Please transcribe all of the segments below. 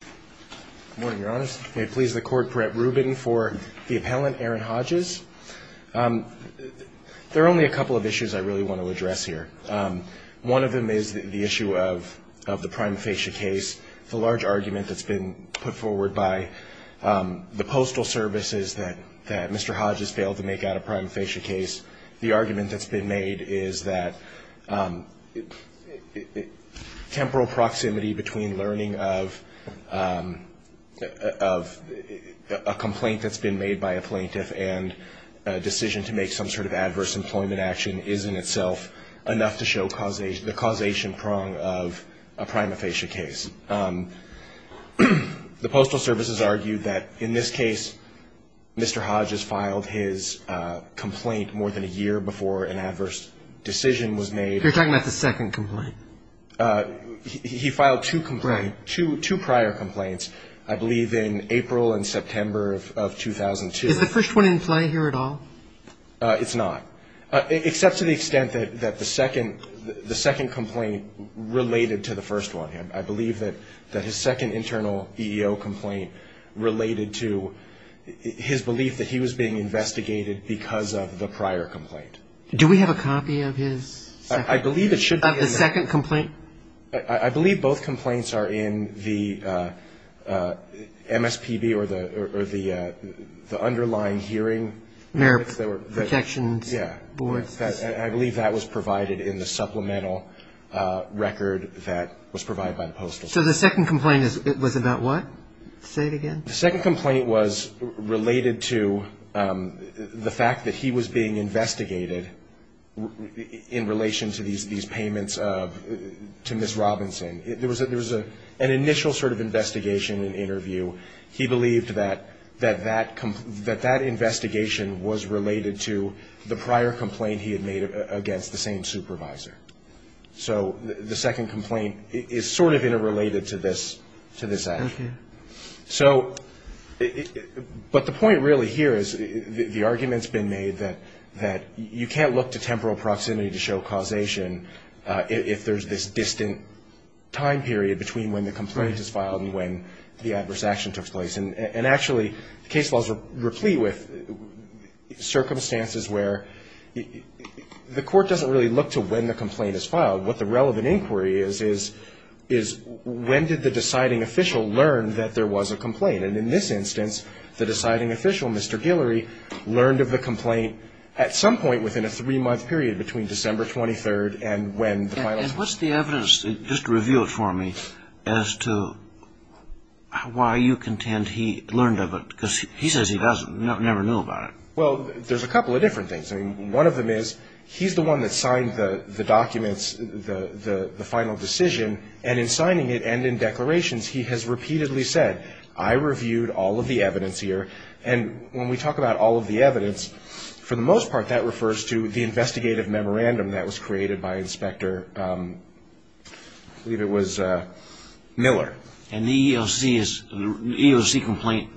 Good morning, Your Honors. May it please the Court, Brett Rubin for the appellant, Aaron Hodges. There are only a couple of issues I really want to address here. One of them is the issue of the prime facie case, the large argument that's been put forward by the Postal Service is that Mr. Hodges failed to make out a prime facie case. The argument that's been made is that temporal proximity between learning of a complaint that's been made by a plaintiff and a decision to make some sort of adverse employment action is in itself enough to show the causation prong of a prime facie case. The Postal Service has argued that in this case Mr. Hodges filed his complaint more than a year before an adverse decision was made. You're talking about the second complaint? He filed two complaints, two prior complaints, I believe in April and September of 2002. Is the first one in play here at all? It's not, except to the extent that the second complaint related to the first one. I believe that his second internal EEO complaint related to his belief that he was being investigated because of the prior complaint. Do we have a copy of his second? I believe it should be in there. Of the second complaint? I believe both complaints are in the MSPB or the underlying hearing. Merit protections board. I believe that was provided in the supplemental record that was provided by the Postal Service. So the second complaint was about what? Say it again. The second complaint was related to the fact that he was being investigated in relation to these payments to Ms. Robinson. So he believed that that investigation was related to the prior complaint he had made against the same supervisor. So the second complaint is sort of interrelated to this action. Okay. So but the point really here is the argument's been made that you can't look to temporal proximity to show causation if there's this distant time period between when the complaint is filed and when the adverse action took place. And actually, case laws are replete with circumstances where the court doesn't really look to when the complaint is filed. What the relevant inquiry is, is when did the deciding official learn that there was a complaint? And in this instance, the deciding official, Mr. Guillory, learned of the complaint at some point within a three-month period between December 23rd and when the violence was. And what's the evidence just revealed for me as to why you contend he learned of it? Because he says he doesn't. He never knew about it. Well, there's a couple of different things. I mean, one of them is he's the one that signed the documents, the final decision. And in signing it and in declarations, he has repeatedly said, I reviewed all of the evidence here. And when we talk about all of the evidence, for the most part, that refers to the investigative memorandum that was created by Inspector, I believe it was Miller. And the EEOC complaint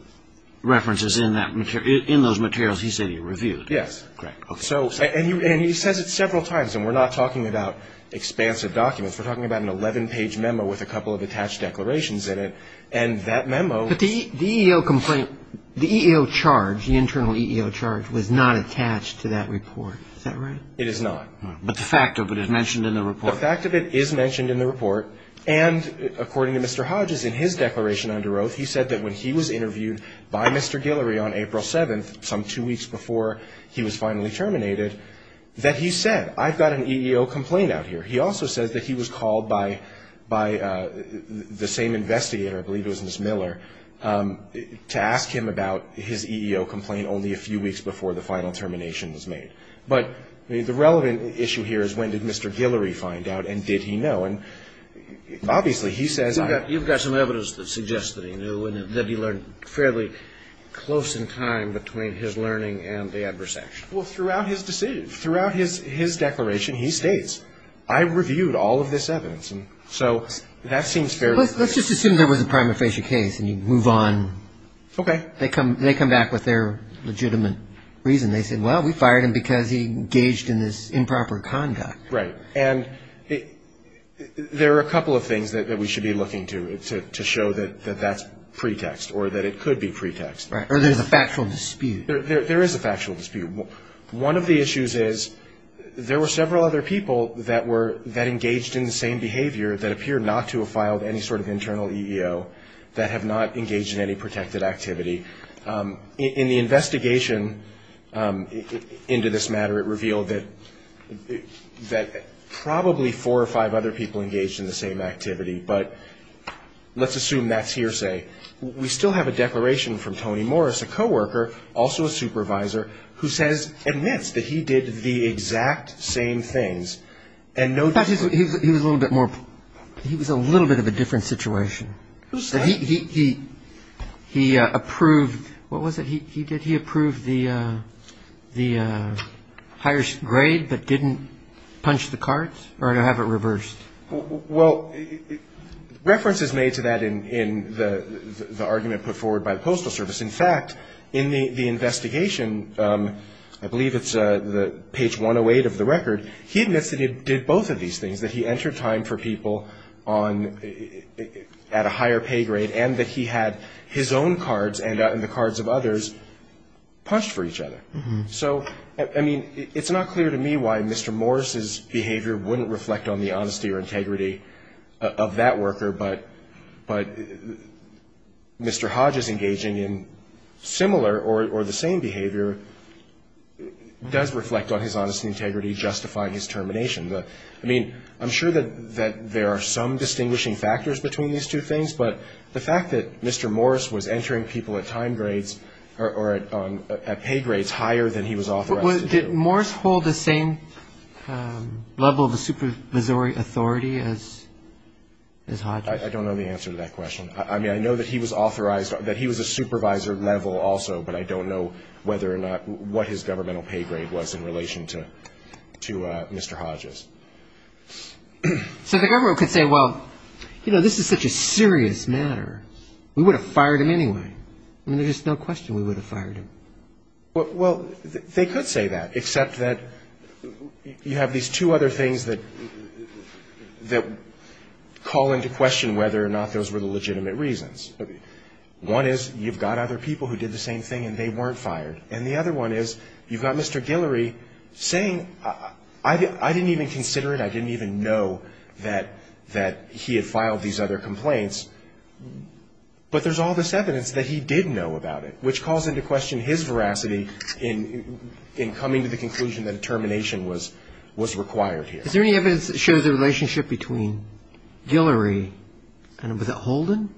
references in those materials, he said he reviewed? Yes. Correct. And he says it several times, and we're not talking about expansive documents. We're talking about an 11-page memo with a couple of attached declarations in it. But the EEO complaint, the EEO charge, the internal EEO charge, was not attached to that report. Is that right? It is not. But the fact of it is mentioned in the report. The fact of it is mentioned in the report. And according to Mr. Hodges, in his declaration under oath, he said that when he was interviewed by Mr. Guillory on April 7th, some two weeks before he was finally terminated, that he said, I've got an EEO complaint out here. He also says that he was called by the same investigator, I believe it was Ms. Miller, to ask him about his EEO complaint only a few weeks before the final termination was made. But the relevant issue here is when did Mr. Guillory find out, and did he know? And obviously, he says I don't know. You've got some evidence that suggests that he knew, and that he learned fairly close in time between his learning and the adverse action. Well, throughout his declaration, he states, I reviewed all of this evidence. And so that seems fairly clear. Let's just assume there was a prima facie case and you move on. Okay. They come back with their legitimate reason. They say, well, we fired him because he engaged in this improper conduct. Right. And there are a couple of things that we should be looking to to show that that's pretext or that it could be pretext. Right. Or there's a factual dispute. There is a factual dispute. One of the issues is there were several other people that engaged in the same behavior that appear not to have filed any sort of internal EEO that have not engaged in any protected activity. In the investigation into this matter, it revealed that probably four or five other people engaged in the same activity. But let's assume that's hearsay. We still have a declaration from Tony Morris, a co-worker, also a supervisor, who says, admits that he did the exact same things. But he was a little bit more, he was a little bit of a different situation. Who said? He approved, what was it he did? He approved the higher grade but didn't punch the cards or to have it reversed? Well, reference is made to that in the argument put forward by the Postal Service. In fact, in the investigation, I believe it's page 108 of the record, he admits that he did both of these things, that he entered time for people at a higher pay grade and that he had his own cards and the cards of others punched for each other. So, I mean, it's not clear to me why Mr. Morris' behavior wouldn't reflect on the honesty or integrity of that worker, but Mr. Hodge's engaging in similar or the same behavior does reflect on his honesty and integrity justifying his termination. I mean, I'm sure that there are some distinguishing factors between these two things, but the fact that Mr. Morris was entering people at time grades or at pay grades higher than he was authorized to do. Did Morris hold the same level of supervisory authority as Hodge? I don't know the answer to that question. I mean, I know that he was authorized, that he was a supervisor level also, but I don't know whether or not what his governmental pay grade was in relation to Mr. Hodge's. So the government could say, well, you know, this is such a serious matter, we would have fired him anyway. I mean, there's just no question we would have fired him. Well, they could say that, except that you have these two other things that call into question whether or not those were the legitimate reasons. One is you've got other people who did the same thing and they weren't fired. And the other one is you've got Mr. Guillory saying I didn't even consider it, I didn't even know that he had filed these other complaints, but there's all this evidence that he did know about it, which calls into question his veracity in coming to the conclusion that termination was required here. Is there any evidence that shows a relationship between Guillory and was it Holden?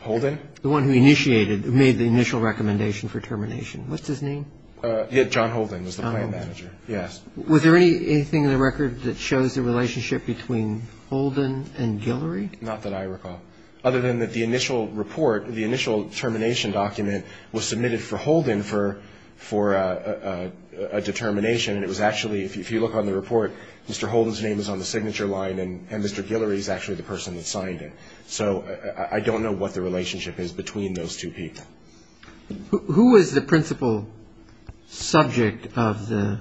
Holden? The one who initiated, who made the initial recommendation for termination. What's his name? John Holden was the plan manager. Yes. Was there anything in the record that shows a relationship between Holden and Guillory? Not that I recall, other than that the initial report, the initial termination document was submitted for Holden for a determination. And it was actually, if you look on the report, Mr. Holden's name is on the signature line and Mr. Guillory is actually the person that signed it. So I don't know what the relationship is between those two people. Who is the principal subject of the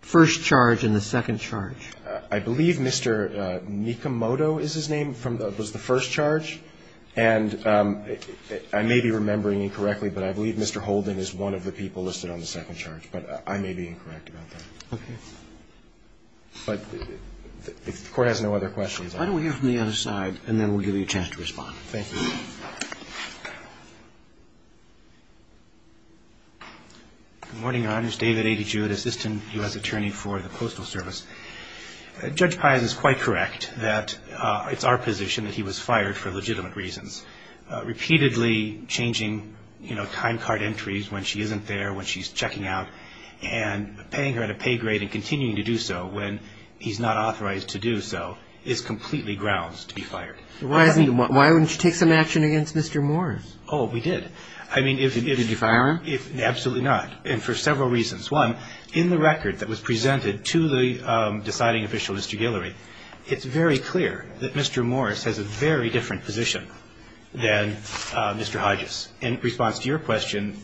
first charge and the second charge? I believe Mr. Nikamoto is his name, was the first charge. And I may be remembering incorrectly, but I believe Mr. Holden is one of the people listed on the second charge, but I may be incorrect about that. Okay. But the Court has no other questions. Why don't we hear from the other side and then we'll give you a chance to respond. Thank you. Good morning, Your Honors. David A. DeJewitt, Assistant U.S. Attorney for the Postal Service. Judge Paz is quite correct that it's our position that he was fired for legitimate reasons. Repeatedly changing, you know, time card entries when she isn't there, when she's checking out, and paying her at a pay grade and continuing to do so when he's not authorized to do so is completely grounds to be fired. Why wouldn't you take some action against Mr. Morris? Oh, we did. Did you fire him? Absolutely not. And for several reasons. One, in the record that was presented to the deciding official, Mr. Guillory, it's very clear that Mr. Morris has a very different position than Mr. Hodges. In response to your question,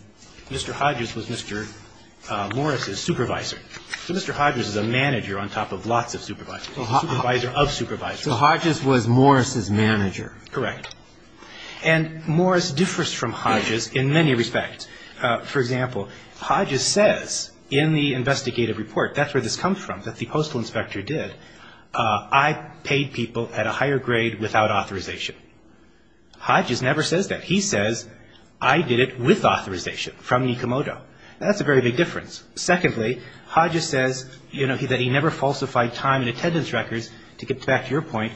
Mr. Hodges was Mr. Morris's supervisor. So Mr. Hodges is a manager on top of lots of supervisors, supervisor of supervisors. So Hodges was Morris's manager. Correct. And Morris differs from Hodges in many respects. For example, Hodges says in the investigative report, that's where this comes from, that the postal inspector did, I paid people at a higher grade without authorization. Hodges never says that. He says, I did it with authorization from Nikomodo. That's a very big difference. Secondly, Hodges says that he never falsified time and attendance records, to get back to your point,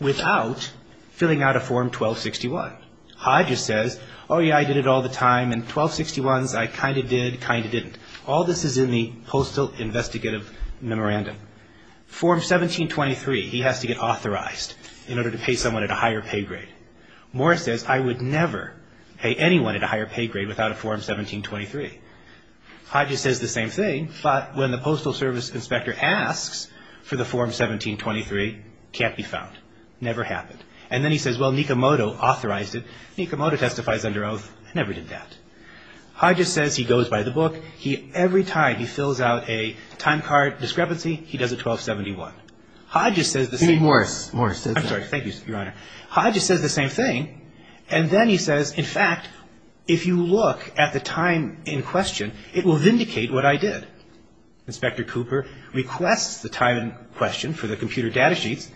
without filling out a Form 1261. Hodges says, oh, yeah, I did it all the time, and 1261s, I kind of did, kind of didn't. All this is in the postal investigative memorandum. Form 1723, he has to get authorized in order to pay someone at a higher pay grade. Morris says, I would never pay anyone at a higher pay grade without a Form 1723. Hodges says the same thing, but when the postal service inspector asks for the Form 1723, can't be found. Never happened. And then he says, well, Nikomodo authorized it. Nikomodo testifies under oath, never did that. Hodges says he goes by the book. Every time he fills out a time card discrepancy, he does it 1271. Hodges says the same thing. Even worse, Morris says that. I'm sorry. Thank you, Your Honor. Hodges says the same thing. And then he says, in fact, if you look at the time in question, it will vindicate what I did. Inspector Cooper requests the time in question for the computer data sheets,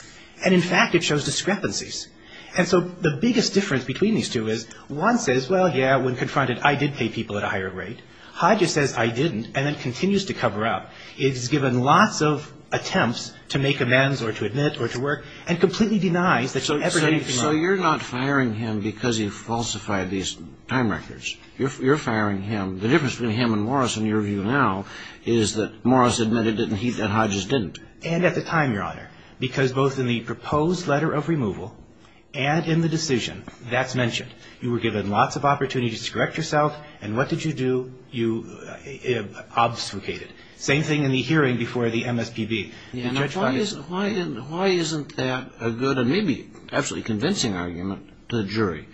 and in fact, it shows discrepancies. And so the biggest difference between these two is one says, well, yeah, when confronted, I did pay people at a higher rate. Hodges says I didn't, and then continues to cover up. He's given lots of attempts to make amends or to admit or to work, and completely denies that he ever did anything like that. So you're not firing him because he falsified these time records. You're firing him. The difference between him and Morris, in your view now, is that Morris admitted that Hodges didn't. And at the time, Your Honor, because both in the proposed letter of removal and in the decision, that's mentioned. You were given lots of opportunities to correct yourself, and what did you do? You obfuscated. Same thing in the hearing before the MSPB. Why isn't that a good and maybe absolutely convincing argument to the jury?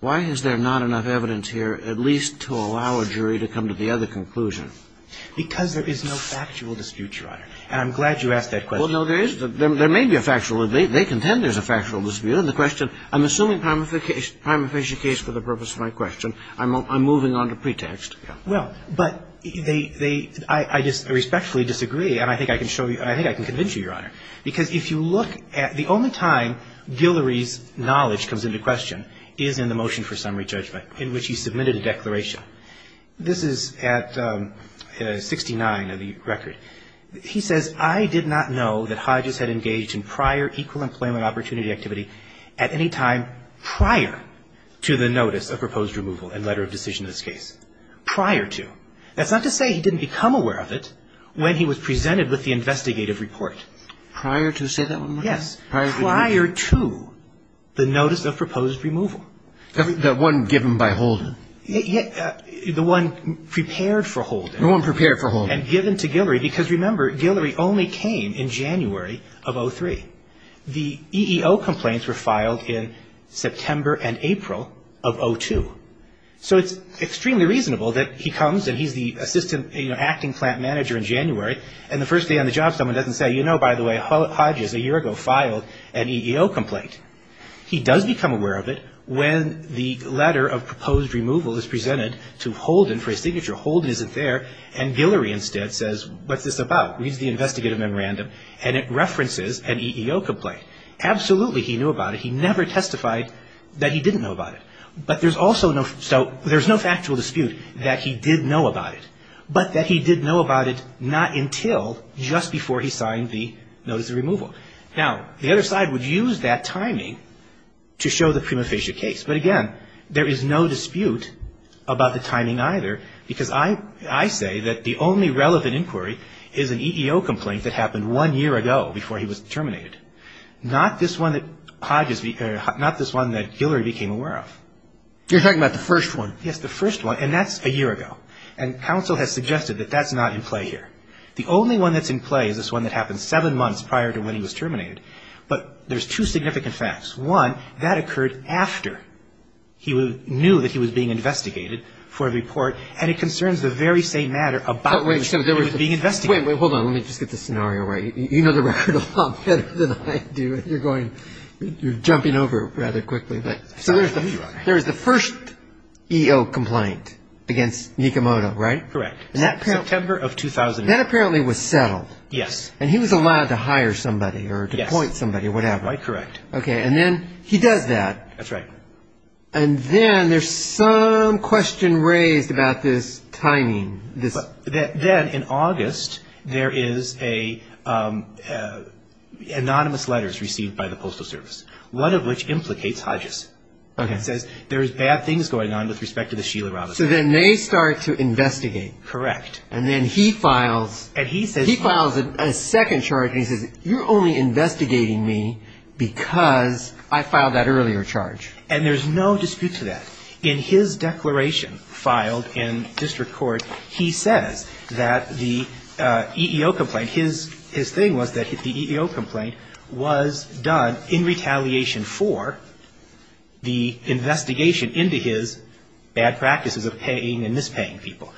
Why is there not enough evidence here at least to allow a jury to come to the other conclusion? Because there is no factual dispute, Your Honor. And I'm glad you asked that question. Well, no, there is. There may be a factual. They contend there's a factual dispute. And the question, I'm assuming a prima facie case for the purpose of my question. I'm moving on to pretext. Well, but they, they, I respectfully disagree, and I think I can show you, I think I can convince you, Your Honor, because if you look at the only time Guillory's knowledge comes into question is in the motion for summary judgment, in which he submitted a declaration. This is at 69 of the record. He says, I did not know that Hodges had engaged in prior equal employment opportunity activity at any time prior to the notice of proposed removal and letter of decision in this case. Prior to. That's not to say he didn't become aware of it when he was presented with the investigative report. Prior to? Say that one more time. Yes. Prior to the notice of proposed removal. The one given by Holden. The one prepared for Holden. The one prepared for Holden. And given to Guillory, because remember, Guillory only came in January of 03. The EEO complaints were filed in September and April of 02. So it's extremely reasonable that he comes and he's the assistant, you know, acting plant manager in January, and the first day on the job someone doesn't say, you know, by the way, Hodges a year ago filed an EEO complaint. He does become aware of it when the letter of proposed removal is presented to Holden for a signature. Holden isn't there, and Guillory instead says, what's this about? Reads the investigative memorandum, and it references an EEO complaint. Absolutely he knew about it. He never testified that he didn't know about it. But there's also no, so there's no factual dispute that he did know about it, but that he did know about it not until just before he signed the notice of removal. Now, the other side would use that timing to show the prima facie case. But again, there is no dispute about the timing either, because I say that the only relevant inquiry is an EEO complaint that happened one year ago before he was terminated. Not this one that Hodges, not this one that Guillory became aware of. You're talking about the first one. Yes, the first one, and that's a year ago. And counsel has suggested that that's not in play here. The only one that's in play is this one that happened seven months prior to when he was terminated. But there's two significant facts. One, that occurred after he knew that he was being investigated for a report, and it concerns the very same matter about which he was being investigated. Wait, wait, hold on. Let me just get this scenario right. You know the record a lot better than I do, and you're going, you're jumping over rather quickly. So there's the first EEO complaint against Nikimoto, right? Correct. September of 2009. That apparently was settled. Yes. And he was allowed to hire somebody or to appoint somebody or whatever. Yes, quite correct. Okay, and then he does that. That's right. And then there's some question raised about this timing. Then in August, there is anonymous letters received by the Postal Service, one of which implicates Hodges. Okay. It says there's bad things going on with respect to the Sheila Robinson. So then they start to investigate. Correct. And then he files a second charge, and he says, you're only investigating me because I filed that earlier charge. And there's no dispute to that. In his declaration filed in district court, he says that the EEO complaint, his thing was that the EEO complaint was done in retaliation for the investigation into his bad practices of paying and mispaying people.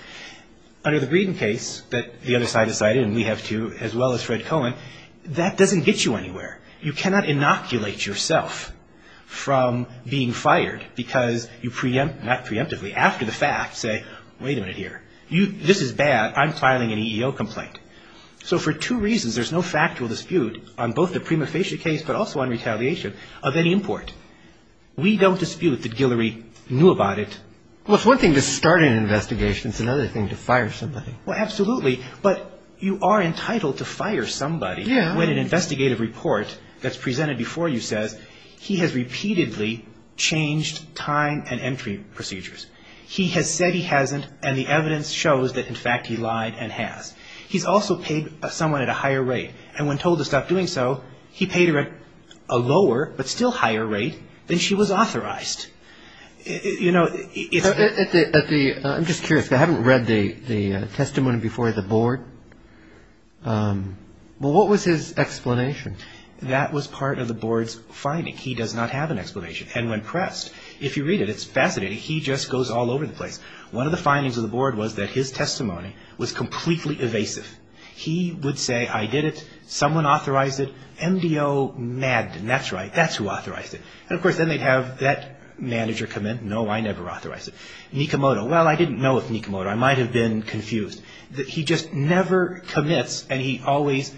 Under the Greeden case that the other side decided, and we have two, as well as Fred Cohen, that doesn't get you anywhere. You cannot inoculate yourself from being fired because you preemptively, not preemptively, after the fact, say, wait a minute here. This is bad. I'm filing an EEO complaint. So for two reasons, there's no factual dispute on both the prima facie case but also on retaliation of any import. We don't dispute that Guillory knew about it. Well, it's one thing to start an investigation. It's another thing to fire somebody. Well, absolutely. But you are entitled to fire somebody when an investigative report that's presented before you says he has repeatedly changed time and entry procedures. He has said he hasn't, and the evidence shows that, in fact, he lied and has. He's also paid someone at a higher rate. And when told to stop doing so, he paid her at a lower but still higher rate than she was authorized. I'm just curious. I haven't read the testimony before the board. What was his explanation? That was part of the board's finding. He does not have an explanation. And when pressed, if you read it, it's fascinating. He just goes all over the place. One of the findings of the board was that his testimony was completely evasive. He would say, I did it. Someone authorized it. MDO maddened. That's right. That's who authorized it. And, of course, then they'd have that manager come in. No, I never authorized it. Nikimoto. Well, I didn't know it was Nikimoto. I might have been confused. He just never commits, and he always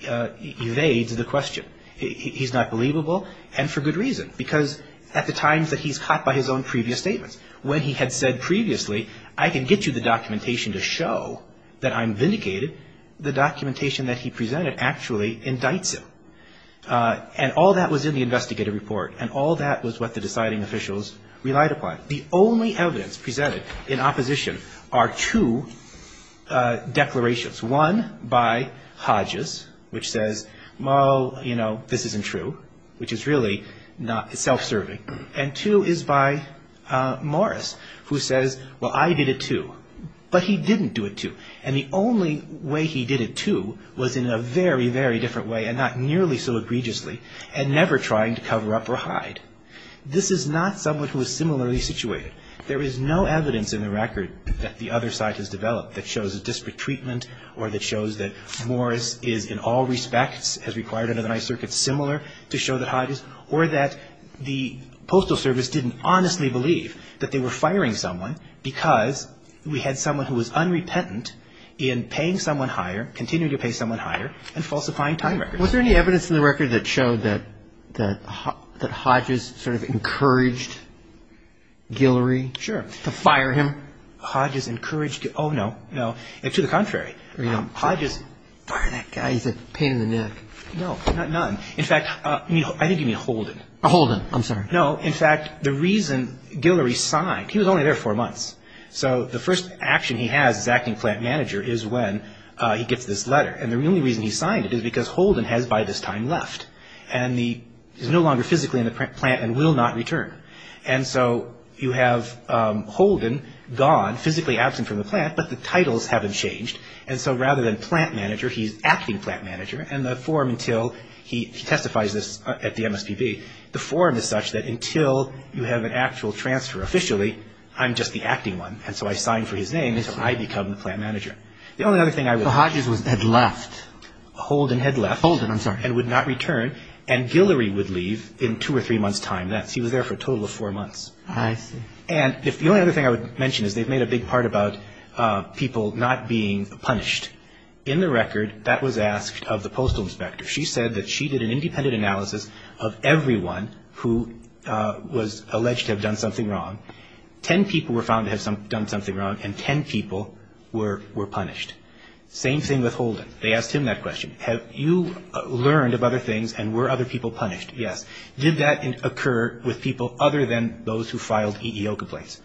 evades the question. He's not believable, and for good reason. Because at the times that he's caught by his own previous statements, when he had said previously, I can get you the documentation to show that I'm vindicated, the documentation that he presented actually indicts him. And all that was in the investigative report, and all that was what the deciding officials relied upon. The only evidence presented in opposition are two declarations. One by Hodges, which says, well, you know, this isn't true, which is really self-serving. And two is by Morris, who says, well, I did it, too. But he didn't do it, too. And the only way he did it, too, was in a very, very different way, and not nearly so egregiously, and never trying to cover up or hide. This is not someone who is similarly situated. There is no evidence in the record that the other side has developed that shows a disparate treatment or that shows that Morris is in all respects, as required under the Ninth Circuit, similar to show that Hodges, or that the Postal Service didn't honestly believe that they were firing someone because we had someone who was unrepentant in paying someone higher, continuing to pay someone higher, and falsifying time records. Was there any evidence in the record that showed that Hodges sort of encouraged Guillory? Sure. To fire him? Hodges encouraged, oh, no, no. To the contrary. Hodges, fire that guy, he's a pain in the neck. No, not none. In fact, I think you mean Holden. Holden, I'm sorry. No, in fact, the reason Guillory signed, he was only there four months. So the first action he has as acting plant manager is when he gets this letter. And the only reason he signed it is because Holden has by this time left. And he is no longer physically in the plant and will not return. And so you have Holden gone, physically absent from the plant, but the titles haven't changed. And so rather than plant manager, he's acting plant manager. And the form until he testifies this at the MSPB, the form is such that until you have an actual transfer officially, I'm just the acting one. And so I sign for his name, and so I become the plant manager. The only other thing I would say. Hodges had left. Holden had left. Holden, I'm sorry. And would not return. And Guillory would leave in two or three months' time. He was there for a total of four months. I see. And the only other thing I would mention is they've made a big part about people not being punished. In the record, that was asked of the postal inspector. She said that she did an independent analysis of everyone who was alleged to have done something wrong. Ten people were found to have done something wrong, and ten people were punished. Same thing with Holden. They asked him that question. Have you learned of other things, and were other people punished? Yes. Did that occur with people other than those who filed EEO complaints?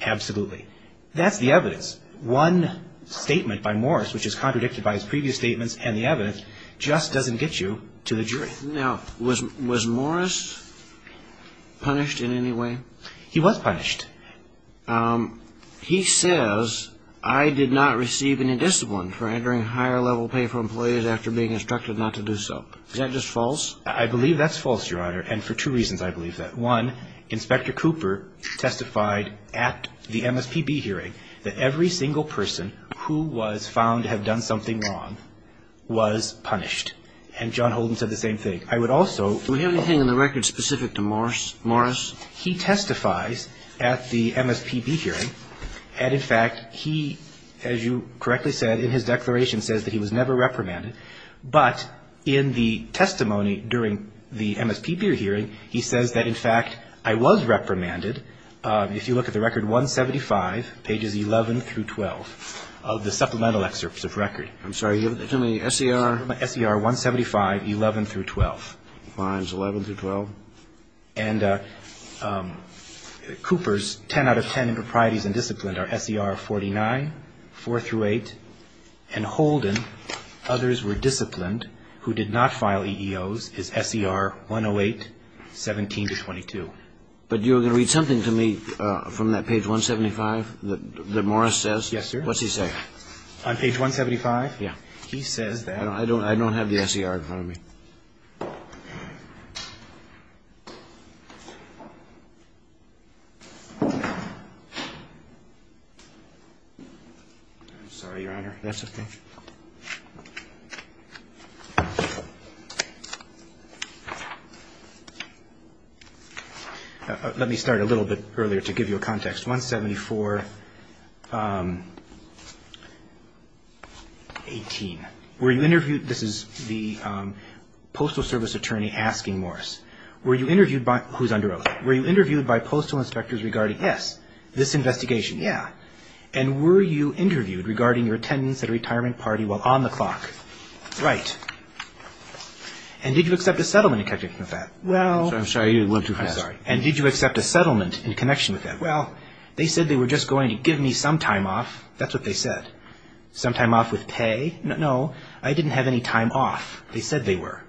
Absolutely. That's the evidence. One statement by Morris, which is contradicted by his previous statements and the evidence, just doesn't get you to the jury. Now, was Morris punished in any way? He was punished. He says, I did not receive any discipline for entering higher-level pay for employees after being instructed not to do so. Is that just false? I believe that's false, Your Honor, and for two reasons I believe that. One, Inspector Cooper testified at the MSPB hearing that every single person who was found to have done something wrong was punished. And John Holden said the same thing. I would also ---- Do we have anything in the record specific to Morris? He testifies at the MSPB hearing, and in fact, he, as you correctly said, in his declaration says that he was never reprimanded. But in the testimony during the MSPB hearing, he says that, in fact, I was reprimanded. If you look at the record 175, pages 11 through 12 of the supplemental excerpts of record. I'm sorry. Give me S.E.R. S.E.R. 175, 11 through 12. Mines 11 through 12. And Cooper's 10 out of 10 in proprieties and discipline are S.E.R. 49, 4 through 8. And Holden, others were disciplined, who did not file EEOs, is S.E.R. 108, 17 to 22. But you're going to read something to me from that page 175 that Morris says? Yes, sir. What's he say? On page 175? Yeah. He says that. I don't have the S.E.R. in front of me. I'm sorry, Your Honor. That's okay. Let me start a little bit earlier to give you a context. Page 174, 18. Were you interviewed? This is the Postal Service attorney asking Morris. Were you interviewed by? Who's under oath? Were you interviewed by postal inspectors regarding? Yes. This investigation? Yeah. And were you interviewed regarding your attendance at a retirement party while on the clock? Right. And did you accept a settlement in connection with that? Well. I'm sorry. I went too fast. I'm sorry. And did you accept a settlement in connection with that? Well, they said they were just going to give me some time off. That's what they said. Some time off with pay? No. I didn't have any time off. They said they were.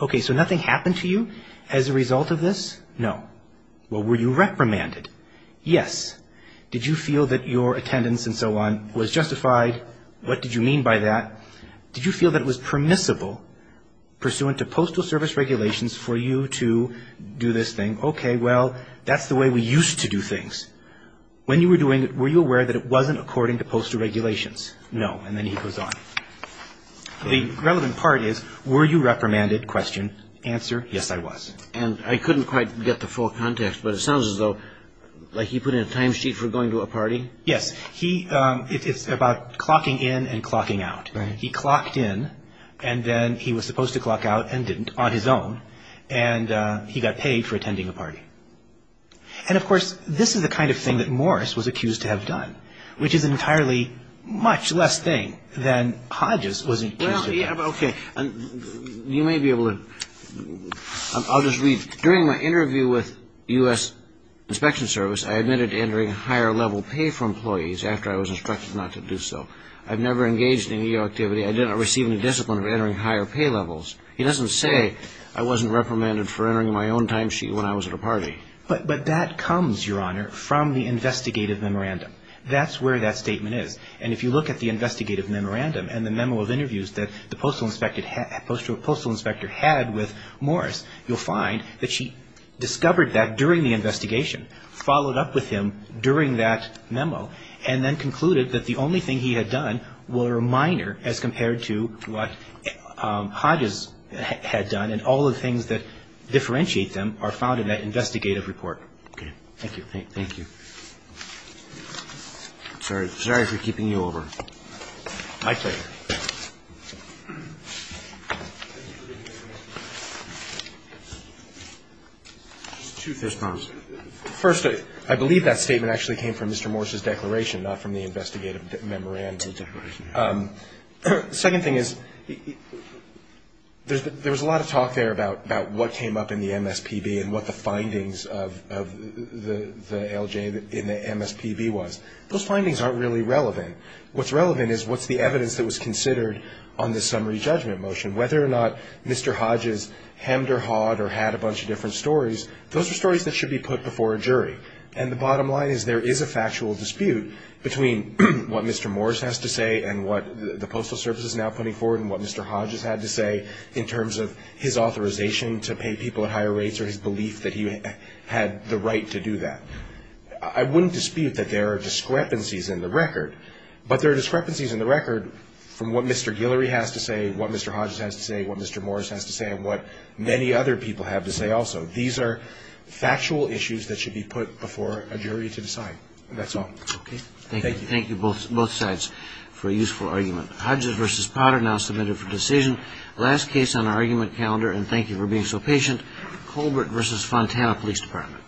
Okay. So nothing happened to you as a result of this? No. Well, were you reprimanded? Yes. Did you feel that your attendance and so on was justified? What did you mean by that? Did you feel that it was permissible pursuant to Postal Service regulations for you to do this thing? Okay. Well, that's the way we used to do things. When you were doing it, were you aware that it wasn't according to postal regulations? No. And then he goes on. The relevant part is, were you reprimanded? Question. Answer. Yes, I was. And I couldn't quite get the full context, but it sounds as though, like he put in a timesheet for going to a party? Yes. He, it's about clocking in and clocking out. Right. He clocked in and then he was supposed to clock out and didn't on his own. And he got paid for attending a party. And, of course, this is the kind of thing that Morris was accused to have done, which is an entirely much less thing than Hodges was accused to have done. Okay. You may be able to, I'll just read. During my interview with U.S. Inspection Service, I admitted to entering higher level pay for employees after I was instructed not to do so. I've never engaged in any activity. I did not receive any discipline of entering higher pay levels. He doesn't say I wasn't reprimanded for entering my own timesheet when I was at a party. But that comes, Your Honor, from the investigative memorandum. That's where that statement is. And if you look at the investigative memorandum and the memo of interviews that the postal inspector had with Morris, you'll find that she discovered that during the investigation, followed up with him during that memo, and then concluded that the only thing he had done were minor as compared to what Hodges had done. And all of the things that differentiate them are found in that investigative report. Okay. Thank you. Thank you. Sorry for keeping you over. My pleasure. Two first comments. First, I believe that statement actually came from Mr. Morris's declaration, not from the investigative memorandum. Second thing is there was a lot of talk there about what came up in the MSPB and what the findings of the LJ in the MSPB was. Those findings aren't really relevant. What's relevant is what's the evidence that was considered on the summary judgment motion. Whether or not Mr. Hodges hemmed or hawed or had a bunch of different stories, those are stories that should be put before a jury. And the bottom line is there is a factual dispute between what Mr. Morris has to say and what the Postal Service is now putting forward and what Mr. Hodges had to say in terms of his authorization to pay people at higher rates or his belief that he had the right to do that. I wouldn't dispute that there are discrepancies in the record, but there are discrepancies in the record from what Mr. Guillory has to say, what Mr. Hodges has to say, what Mr. Morris has to say, and what many other people have to say also. These are factual issues that should be put before a jury to decide. That's all. Thank you. Thank you both sides for a useful argument. Hodges v. Potter now submitted for decision. Last case on our argument calendar, and thank you for being so patient, Colbert v. Fontana Police Department.